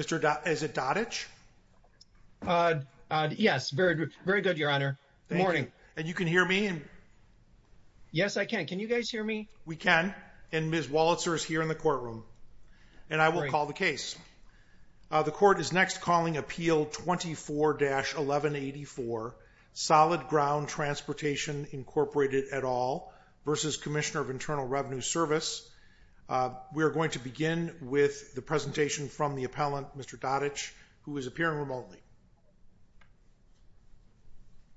Yes, very good, Your Honor. Good morning. And you can hear me? Yes, I can. Can you guys hear me? We can, and Ms. Walitzer is here in the courtroom, and I will call the case. The court is next calling Appeal 24-1184, Solid Ground Transportation, Incorporated, et al. v. Commissioner of Internal Revenue Service. We are going to begin with the presentation from the appellant, Mr. Joseph Dadich, who is appearing remotely.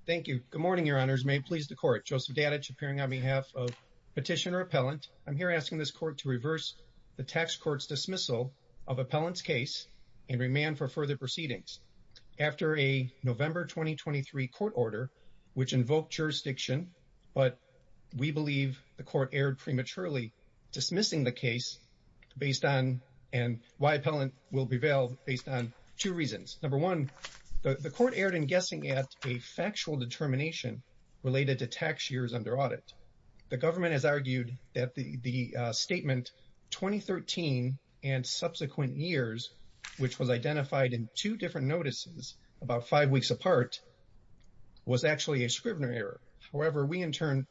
Thank you. Good morning, Your Honors. May it please the Court. Joseph Dadich, appearing on behalf of Petitioner Appellant. I'm here asking this Court to reverse the Tax Court's dismissal of Appellant's case and remand for further proceedings. After a November 2023 court order, which invoked jurisdiction, but we believe the Court erred prematurely dismissing the case based on, and why Appellant will prevail based on, two reasons. Number one, the Court erred in guessing at a factual determination related to tax years under audit. The government has argued that the statement, 2013 and subsequent years, which was identified in two different notices about five weeks apart, was actually a Scrivener error. However, we in turn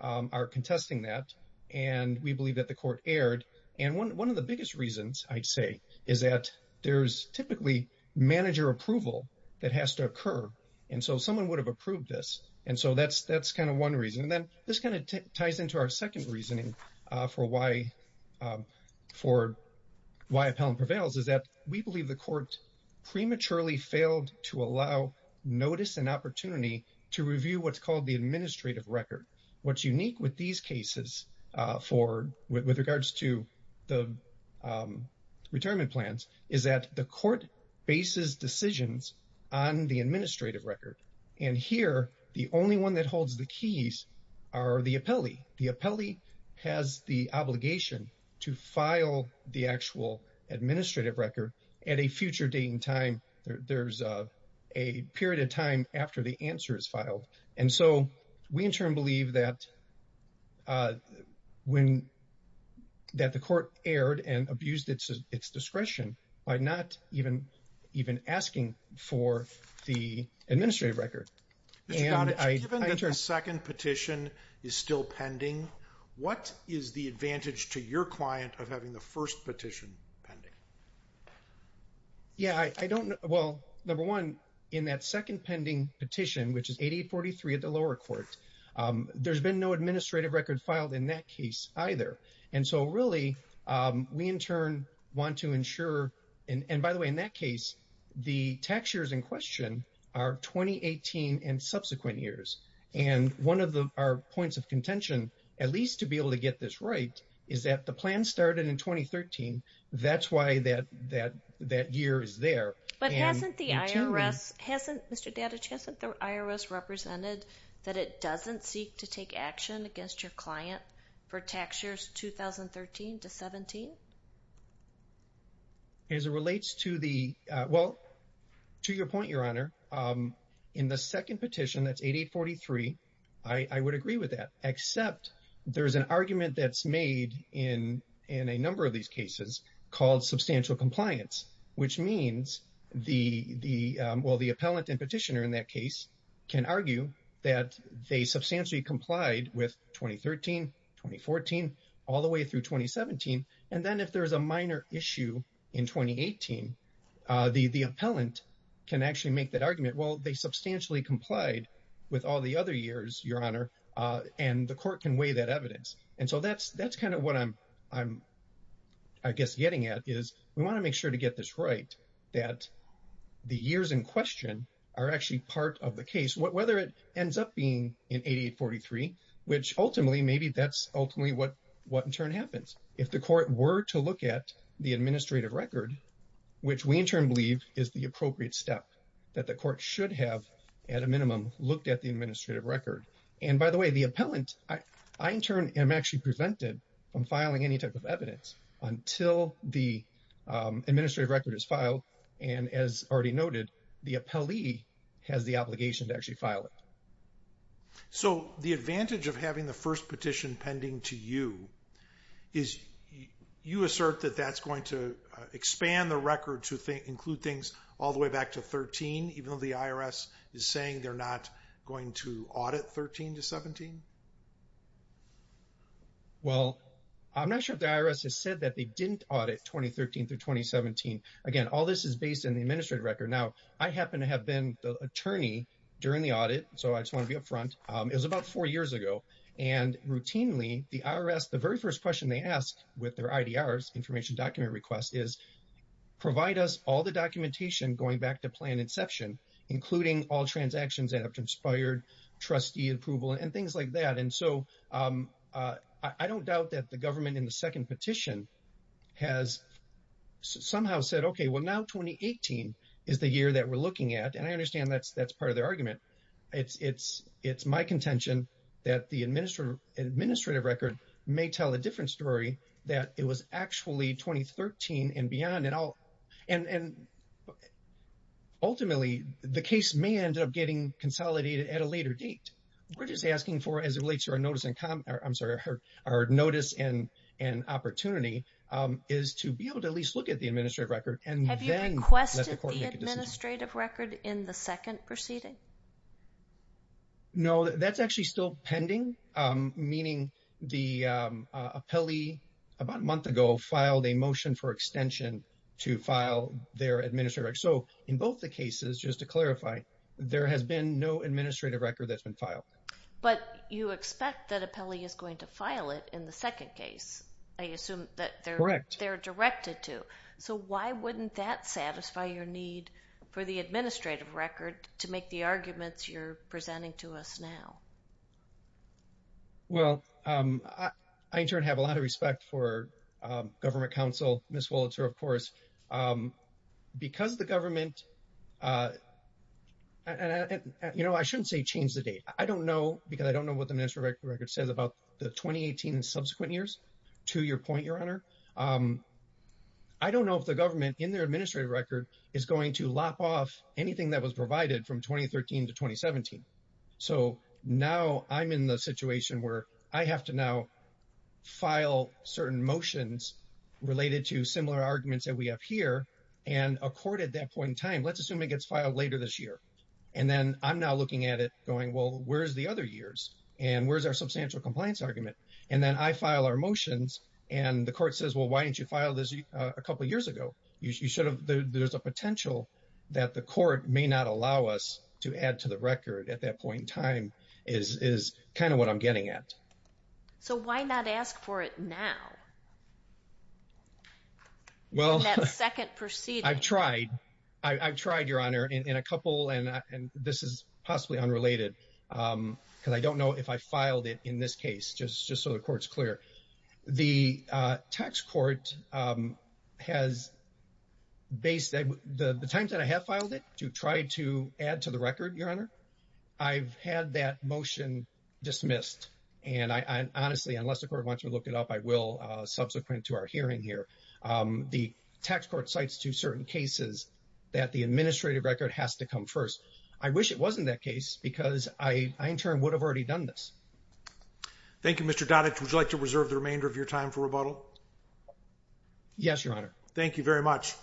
are contesting that, and we believe that the Court erred. One of the biggest reasons, I'd say, is that there's typically manager approval that has to occur, and so someone would have approved this. That's one reason. This ties into our second reasoning for why Appellant prevails, is that we believe the Court prematurely failed to allow notice and opportunity to review what's called the administrative record. What's unique with these cases, with regards to the retirement plans, is that the Court bases decisions on the administrative record, and here, the only one that holds the keys are the appellee. The appellee has the obligation to file the actual administrative record at a future date and time. There's a period of time after the answer is filed, and so we in turn believe that the Court erred and abused its discretion by not even asking for the administrative record. Mr. Connick, given that the second petition is still pending, what is the advantage to your client of having the first petition pending? Yeah, I don't know. Well, number one, in that second pending petition, which is 8843 at the lower court, there's been no administrative record filed in that case either, and so really, we in turn want to ensure, and by the way, in that case, the tax years in question are 2018 and subsequent years, and one of our points of contention, at least to be able to get this right, is that the plan started in 2013. That's why that year is there. But hasn't the IRS, hasn't, Mr. Dattach, hasn't the IRS represented that it doesn't seek to take action against your client for tax years 2013 to 17? As it relates to the, well, to your point, Your Honor, in the second petition, that's 8843. I would agree with that, except there's an argument that's made in a number of these cases called substantial compliance, which means the, well, the appellant and petitioner in that case can argue that they substantially complied with 2013, 2014, all the way through 2017, and then if there's a minor issue in 2018, the appellant can actually make that they substantially complied with all the other years, Your Honor, and the court can weigh that evidence. And so that's kind of what I'm, I guess, getting at, is we want to make sure to get this right, that the years in question are actually part of the case, whether it ends up being in 8843, which ultimately, maybe that's ultimately what in turn happens. If the court were to look at the administrative record, which we in turn believe is the appropriate step that the court should have, at a minimum, looked at the administrative record. And by the way, the appellant, I in turn am actually prevented from filing any type of evidence until the administrative record is filed. And as already noted, the appellee has the obligation to actually file it. So the advantage of having the first petition pending to you is you assert that that's going to expand the record to include things all the way back to 13, even though the IRS is saying they're not going to audit 13 to 17? Well, I'm not sure if the IRS has said that they didn't audit 2013 through 2017. Again, all this is based on the administrative record. Now, I happen to have been the attorney during the audit, so I just want to be up front. It was about four years ago. And routinely, the IRS, the very first question they ask with their IDRs, information document request, is provide us all the documentation going back to plan inception, including all transactions that have transpired, trustee approval, and things like that. And so I don't doubt that the government in the second petition has somehow said, okay, well, now 2018 is the year that we're looking at. And I understand that's part of their argument. It's my contention that the administrative record may tell a different story, that it was actually 2013 and beyond. And ultimately, the case may end up getting consolidated at a later date. We're just asking for, as it relates to our notice and opportunity, is to be able to at least look at the administrative record and then let the court make a decision. Have you requested the administrative record in the second proceeding? No, that's actually still pending, meaning the appellee about a month ago filed a motion for extension to file their administrative record. So in both the cases, just to clarify, there has been no administrative record that's been filed. But you expect that appellee is going to file it in the second case. I assume that they're directed to. So why wouldn't that satisfy your need for the administrative record to make the arguments you're presenting to us now? Well, I in turn have a lot of respect for government counsel, Ms. Wolitzer, of course. Because the government, and I shouldn't say change the date. I don't know, because I don't know what the administrative record says about the 2018 and subsequent years, to your point, Your Honor. I don't know if the government in their administrative record is going to lop off anything that was provided from 2013 to 2017. So now I'm in the situation where I have to now file certain motions related to similar arguments that we have here. And a court at that point in time, let's assume it gets filed later this year. And then I'm now looking at it going, well, where's the other years? And where's our substantial compliance argument? And then I file our motions and the court says, well, why didn't you file this a couple of years ago? There's a potential that the court may not allow us to add to the record at that point in time, is kind of what I'm getting at. So why not ask for it now? Well, I've tried. I've tried, Your Honor, in a couple, and this is possibly unrelated, because I don't know if I filed it in this case, just so the court's clear. The tax court has based, the times that I have filed it to try to add to the record, Your Honor, I've had that motion dismissed. And I honestly, unless the court wants to look it up, I will subsequent to our hearing here. The tax court cites to certain cases that the administrative record has to come first. I wish it wasn't that case because I in turn would have already done this. Thank you, Mr. Doddich. Would you like to reserve the remainder of your time for rebuttal? Yes, Your Honor. Thank you very much.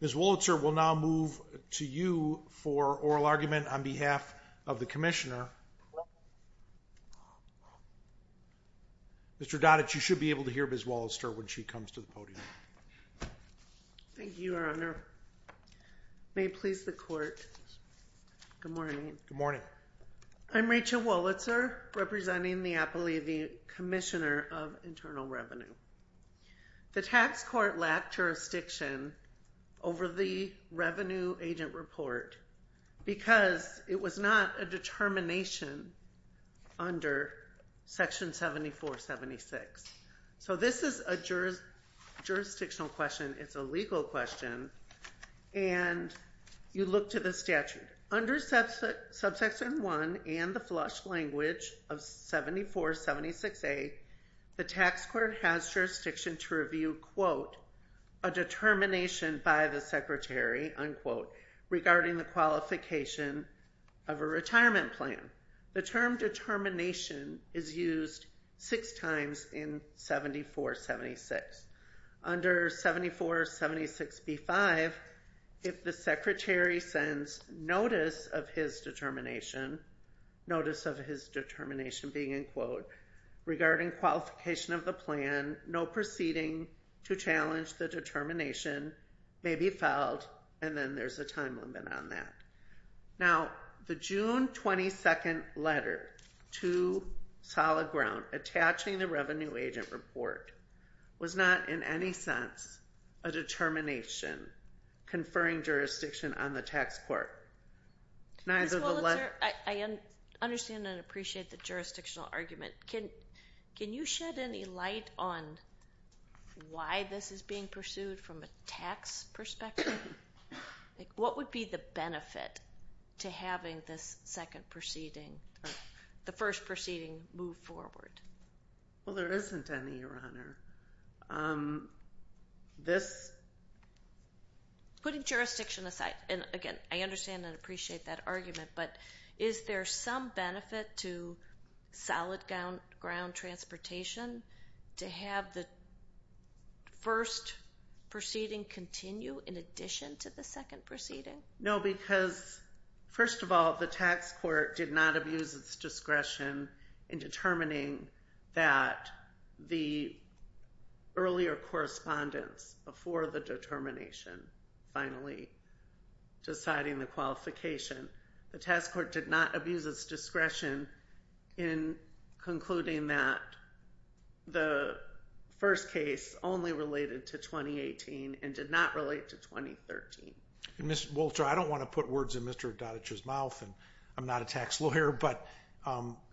Ms. Wolitzer will now move to you for oral argument on behalf of the commissioner. Mr. Doddich, you should be able to hear Ms. Wolitzer when she comes to the podium. Thank you, Your Honor. May it please the court. Good morning. Good morning. I'm Rachel Wolitzer representing the Appalachian Commissioner of Internal Revenue. The tax court lacked jurisdiction over the revenue agent report because it was not a determination under Section 7476. So this is a jurisdictional question. It's a legal question. And you look to the statute. Under Subsection 1 and the flush language of 7476A, the tax court has jurisdiction to review, quote, a determination by the secretary, unquote, regarding the qualification of a retirement plan. The term determination is used six times in 7476. Under 7476B-5, if the secretary sends notice of his determination, notice of his determination being, unquote, regarding qualification of the plan, no proceeding to challenge the determination may be filed. And then there's a time limit on that. Now, the June 22 letter to Solid Ground attaching the revenue agent report was not in any sense a determination conferring jurisdiction on the tax court. Ms. Wolitzer, I understand and appreciate the jurisdictional argument. Can you shed any light on why this is being pursued from a tax perspective? Like, what would be the benefit to having this second proceeding, the first proceeding move forward? Well, there isn't any, Your Honor. This... Putting jurisdiction aside, and again, I understand and appreciate that argument, but is there some benefit to Solid Ground transportation to have the first proceeding continue in addition to the second proceeding? No, because, first of all, the tax court did not abuse its discretion in determining that the earlier correspondence before the determination finally deciding the qualification. The tax court did not abuse its discretion in concluding that the first case only related to 2018 and did not relate to 2013. Ms. Wolitzer, I don't want to put words in Mr. Dodich's mouth, and I'm not a tax lawyer, but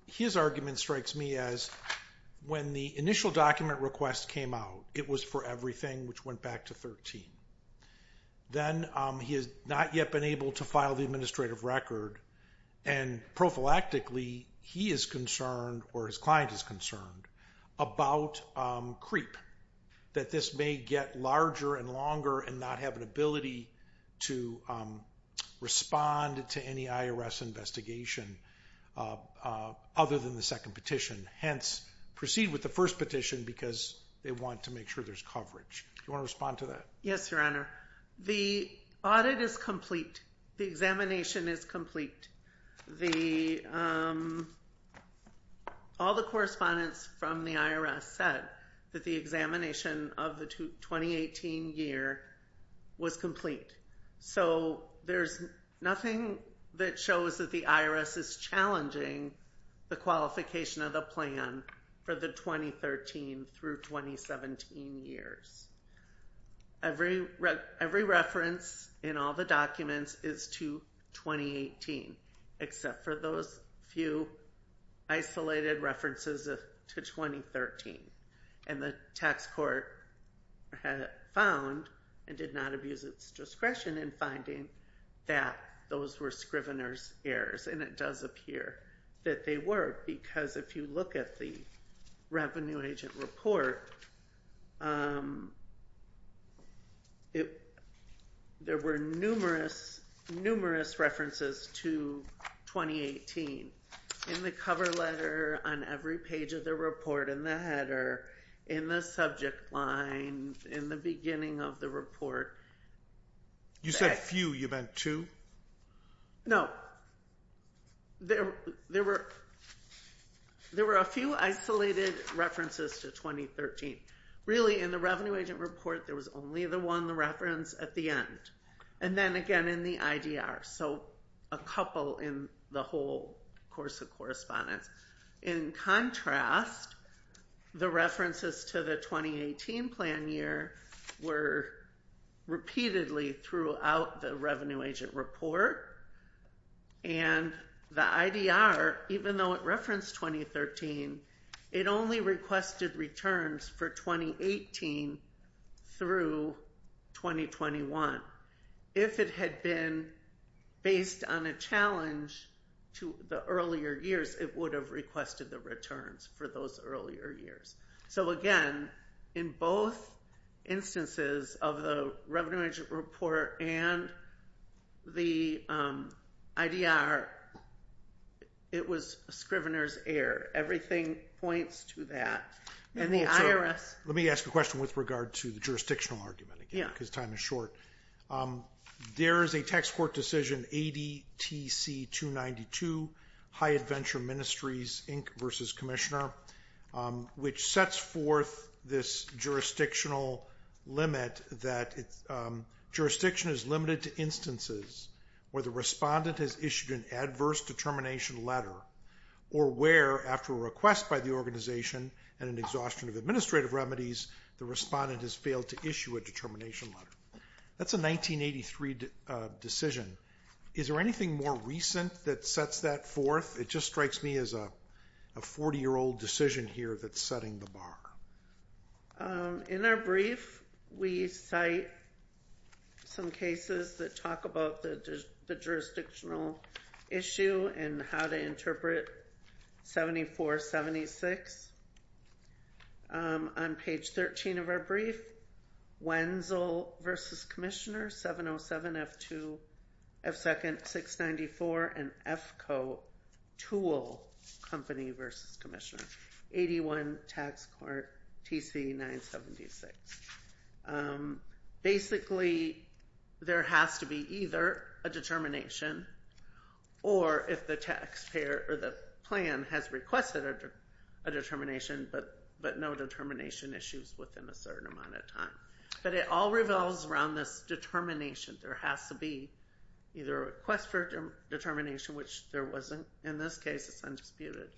his argument strikes me as when the initial document request came out, it was for everything, which went back to 13. Then he has not yet been able to file the administrative record, and prophylactically, he is concerned or his client is concerned about creep, that this may get larger and longer and not have an ability to respond to any IRS investigation other than the second petition. Hence, proceed with the first petition because they want to make sure there's coverage. Do you want to respond to that? Yes, Your Honor. The audit is complete. The examination is complete. All the correspondence from the IRS said that the examination of the 2018 year was complete. So, there's nothing that shows that the IRS is challenging the qualification of the plan for the 2013 through 2017 years. Every reference in all the documents is to 2018, except for those few isolated references to 2013. The tax court had found and did not abuse its discretion in finding that those were Scrivener's errors, and it does appear that they were because if you look at the revenue agent report, there were numerous, numerous references to 2018 in the cover letter, on every page of the report, in the header, in the subject line, in the beginning of the report. You said few. You meant two? No. There were a few isolated references to 2013. Really, in the revenue agent report, there was only the one reference at the end, and then again in the IDR. So, a couple in the whole course of correspondence. In contrast, the references to the 2018 plan year were repeatedly throughout the revenue agent report, and the IDR, even though it referenced 2013, it only requested returns for 2018 through 2021. If it had been based on a challenge to the earlier years, it would have requested the returns for those earlier years. So again, in both instances of the revenue agent report and the IDR, it was a Scrivener's error. Everything points to that. And the IRS... Let me ask a question with regard to the jurisdictional argument, again, because time is short. There is a tax court decision, ADTC 292, High Adventure Ministries, Inc. v. Commissioner, which sets forth this jurisdictional limit that jurisdiction is limited to instances where the respondent has issued an adverse determination letter, or where, after a request by the organization and an exhaustion of administrative remedies, the respondent has failed to issue a determination letter. That's a 1983 decision. Is there anything more recent that sets that forth? It just strikes me as a 40-year-old decision here that's setting the bar. In our brief, we cite some cases that talk about the jurisdictional issue and how to interpret 7476. On page 13 of our brief, Wenzel v. Commissioner, 707F2, F2nd 694, and EFCO Tool Company v. Commissioner, 81 Tax Court TC 976. Basically, there has to be either a determination or if the taxpayer or the plan has requested a determination but no determination issues within a certain amount of time. But it all revolves around this determination. There has to be either a request for determination, which there wasn't in this case, it's undisputed,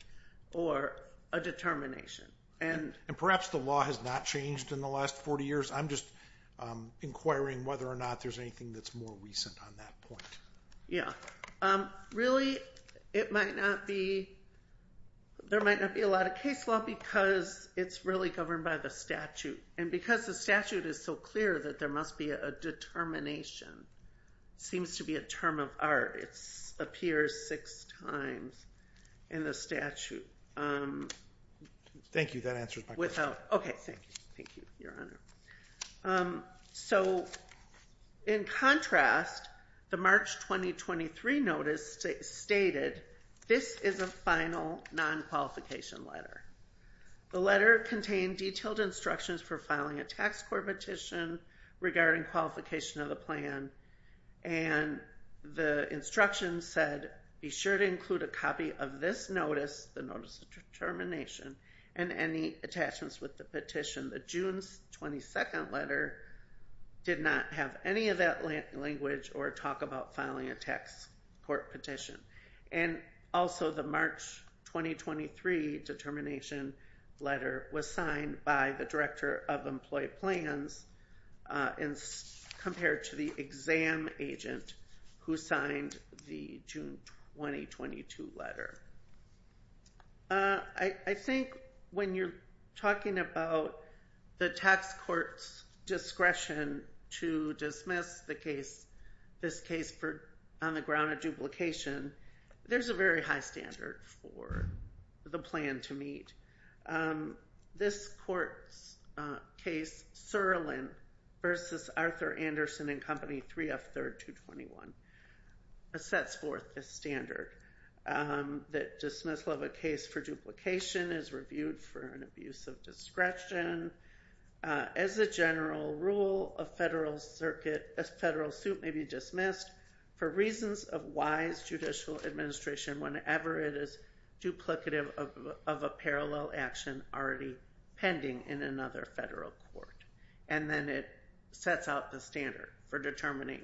or a determination. And perhaps the law has not changed in the last 40 years. I'm just Really, there might not be a lot of case law because it's really governed by the statute. And because the statute is so clear that there must be a determination, it seems to be a term of art. It appears six times in the statute. Thank you. That answers my question. Okay, thank you. Thank you, Your Honor. So, in contrast, the March 2023 notice stated, this is a final non-qualification letter. The letter contained detailed instructions for filing a tax court petition regarding qualification of the plan. And the instruction said, be sure to copy of this notice, the notice of determination, and any attachments with the petition. The June 22 letter did not have any of that language or talk about filing a tax court petition. And also, the March 2023 determination letter was signed by the director of employee plans and compared to the exam agent who signed the June 2022 letter. I think when you're talking about the tax court's discretion to dismiss the case, this case on the ground of duplication, there's a very high standard for the plan to meet. This court's case, Surlin v. Arthur Anderson and Company, 3F, 3rd, 221, sets forth the standard that dismissal of a case for duplication is reviewed for an abuse of discretion. As a general rule, a federal circuit, a federal suit may be dismissed for reasons of judicial administration whenever it is duplicative of a parallel action already pending in another federal court. And then it sets out the standard for determining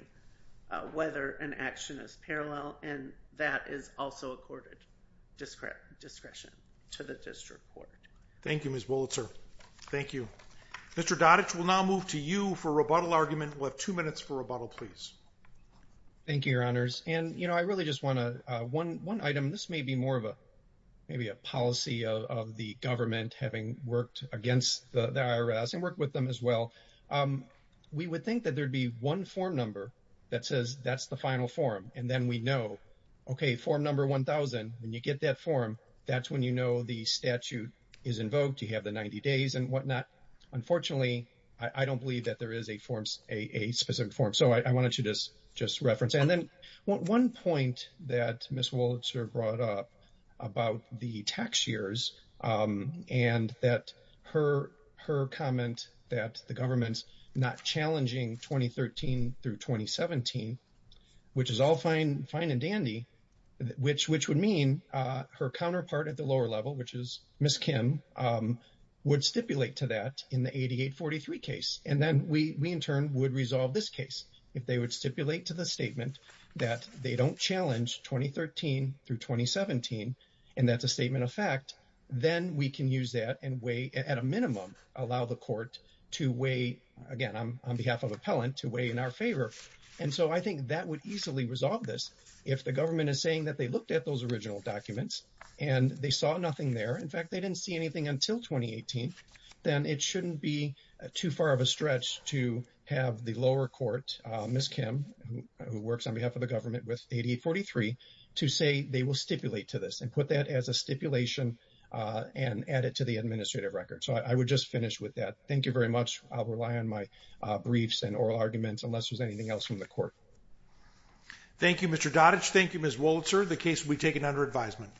whether an action is parallel, and that is also accorded discretion to the district court. Thank you, Ms. Bullitzer. Thank you. Mr. Dodditch, we'll now move to you for rebuttal argument. We'll have two minutes for rebuttal, please. Thank you, Your Honors. And, you know, I really just want to, one item, this may be more of a, maybe a policy of the government having worked against the IRS and worked with them as well. We would think that there'd be one form number that says that's the final form, and then we know, okay, form number 1,000, when you get that form, that's when you know the statute is invoked, you have the 90 days and whatnot. Unfortunately, I don't believe that there is a specific form. So I wanted to just reference. And then one point that Ms. Bullitzer brought up about the tax years and that her comment that the government's not challenging 2013 through 2017, which is all fine and dandy, which would mean her counterpart at the lower level, which is Ms. Kim, would stipulate to that in the 8843 case. And then we, in turn, would resolve this case. If they would stipulate to the statement that they don't challenge 2013 through 2017, and that's a statement of fact, then we can use that and weigh, at a minimum, allow the court to weigh, again, on behalf of appellant, to weigh in our favor. And so I think that would easily resolve this if the government is saying that they looked at those original documents and they saw nothing there. In fact, they didn't see anything until 2018, then it shouldn't be too far of a stretch to have the lower court, Ms. Kim, who works on behalf of the government with 8843, to say they will stipulate to this and put that as a stipulation and add it to the administrative record. So I would just finish with that. Thank you very much. I'll rely on my briefs and oral arguments unless there's anything else from the court. Thank you, Mr. Dodditch. Thank you, Ms. Wolitzer. The case will be taken under advisement.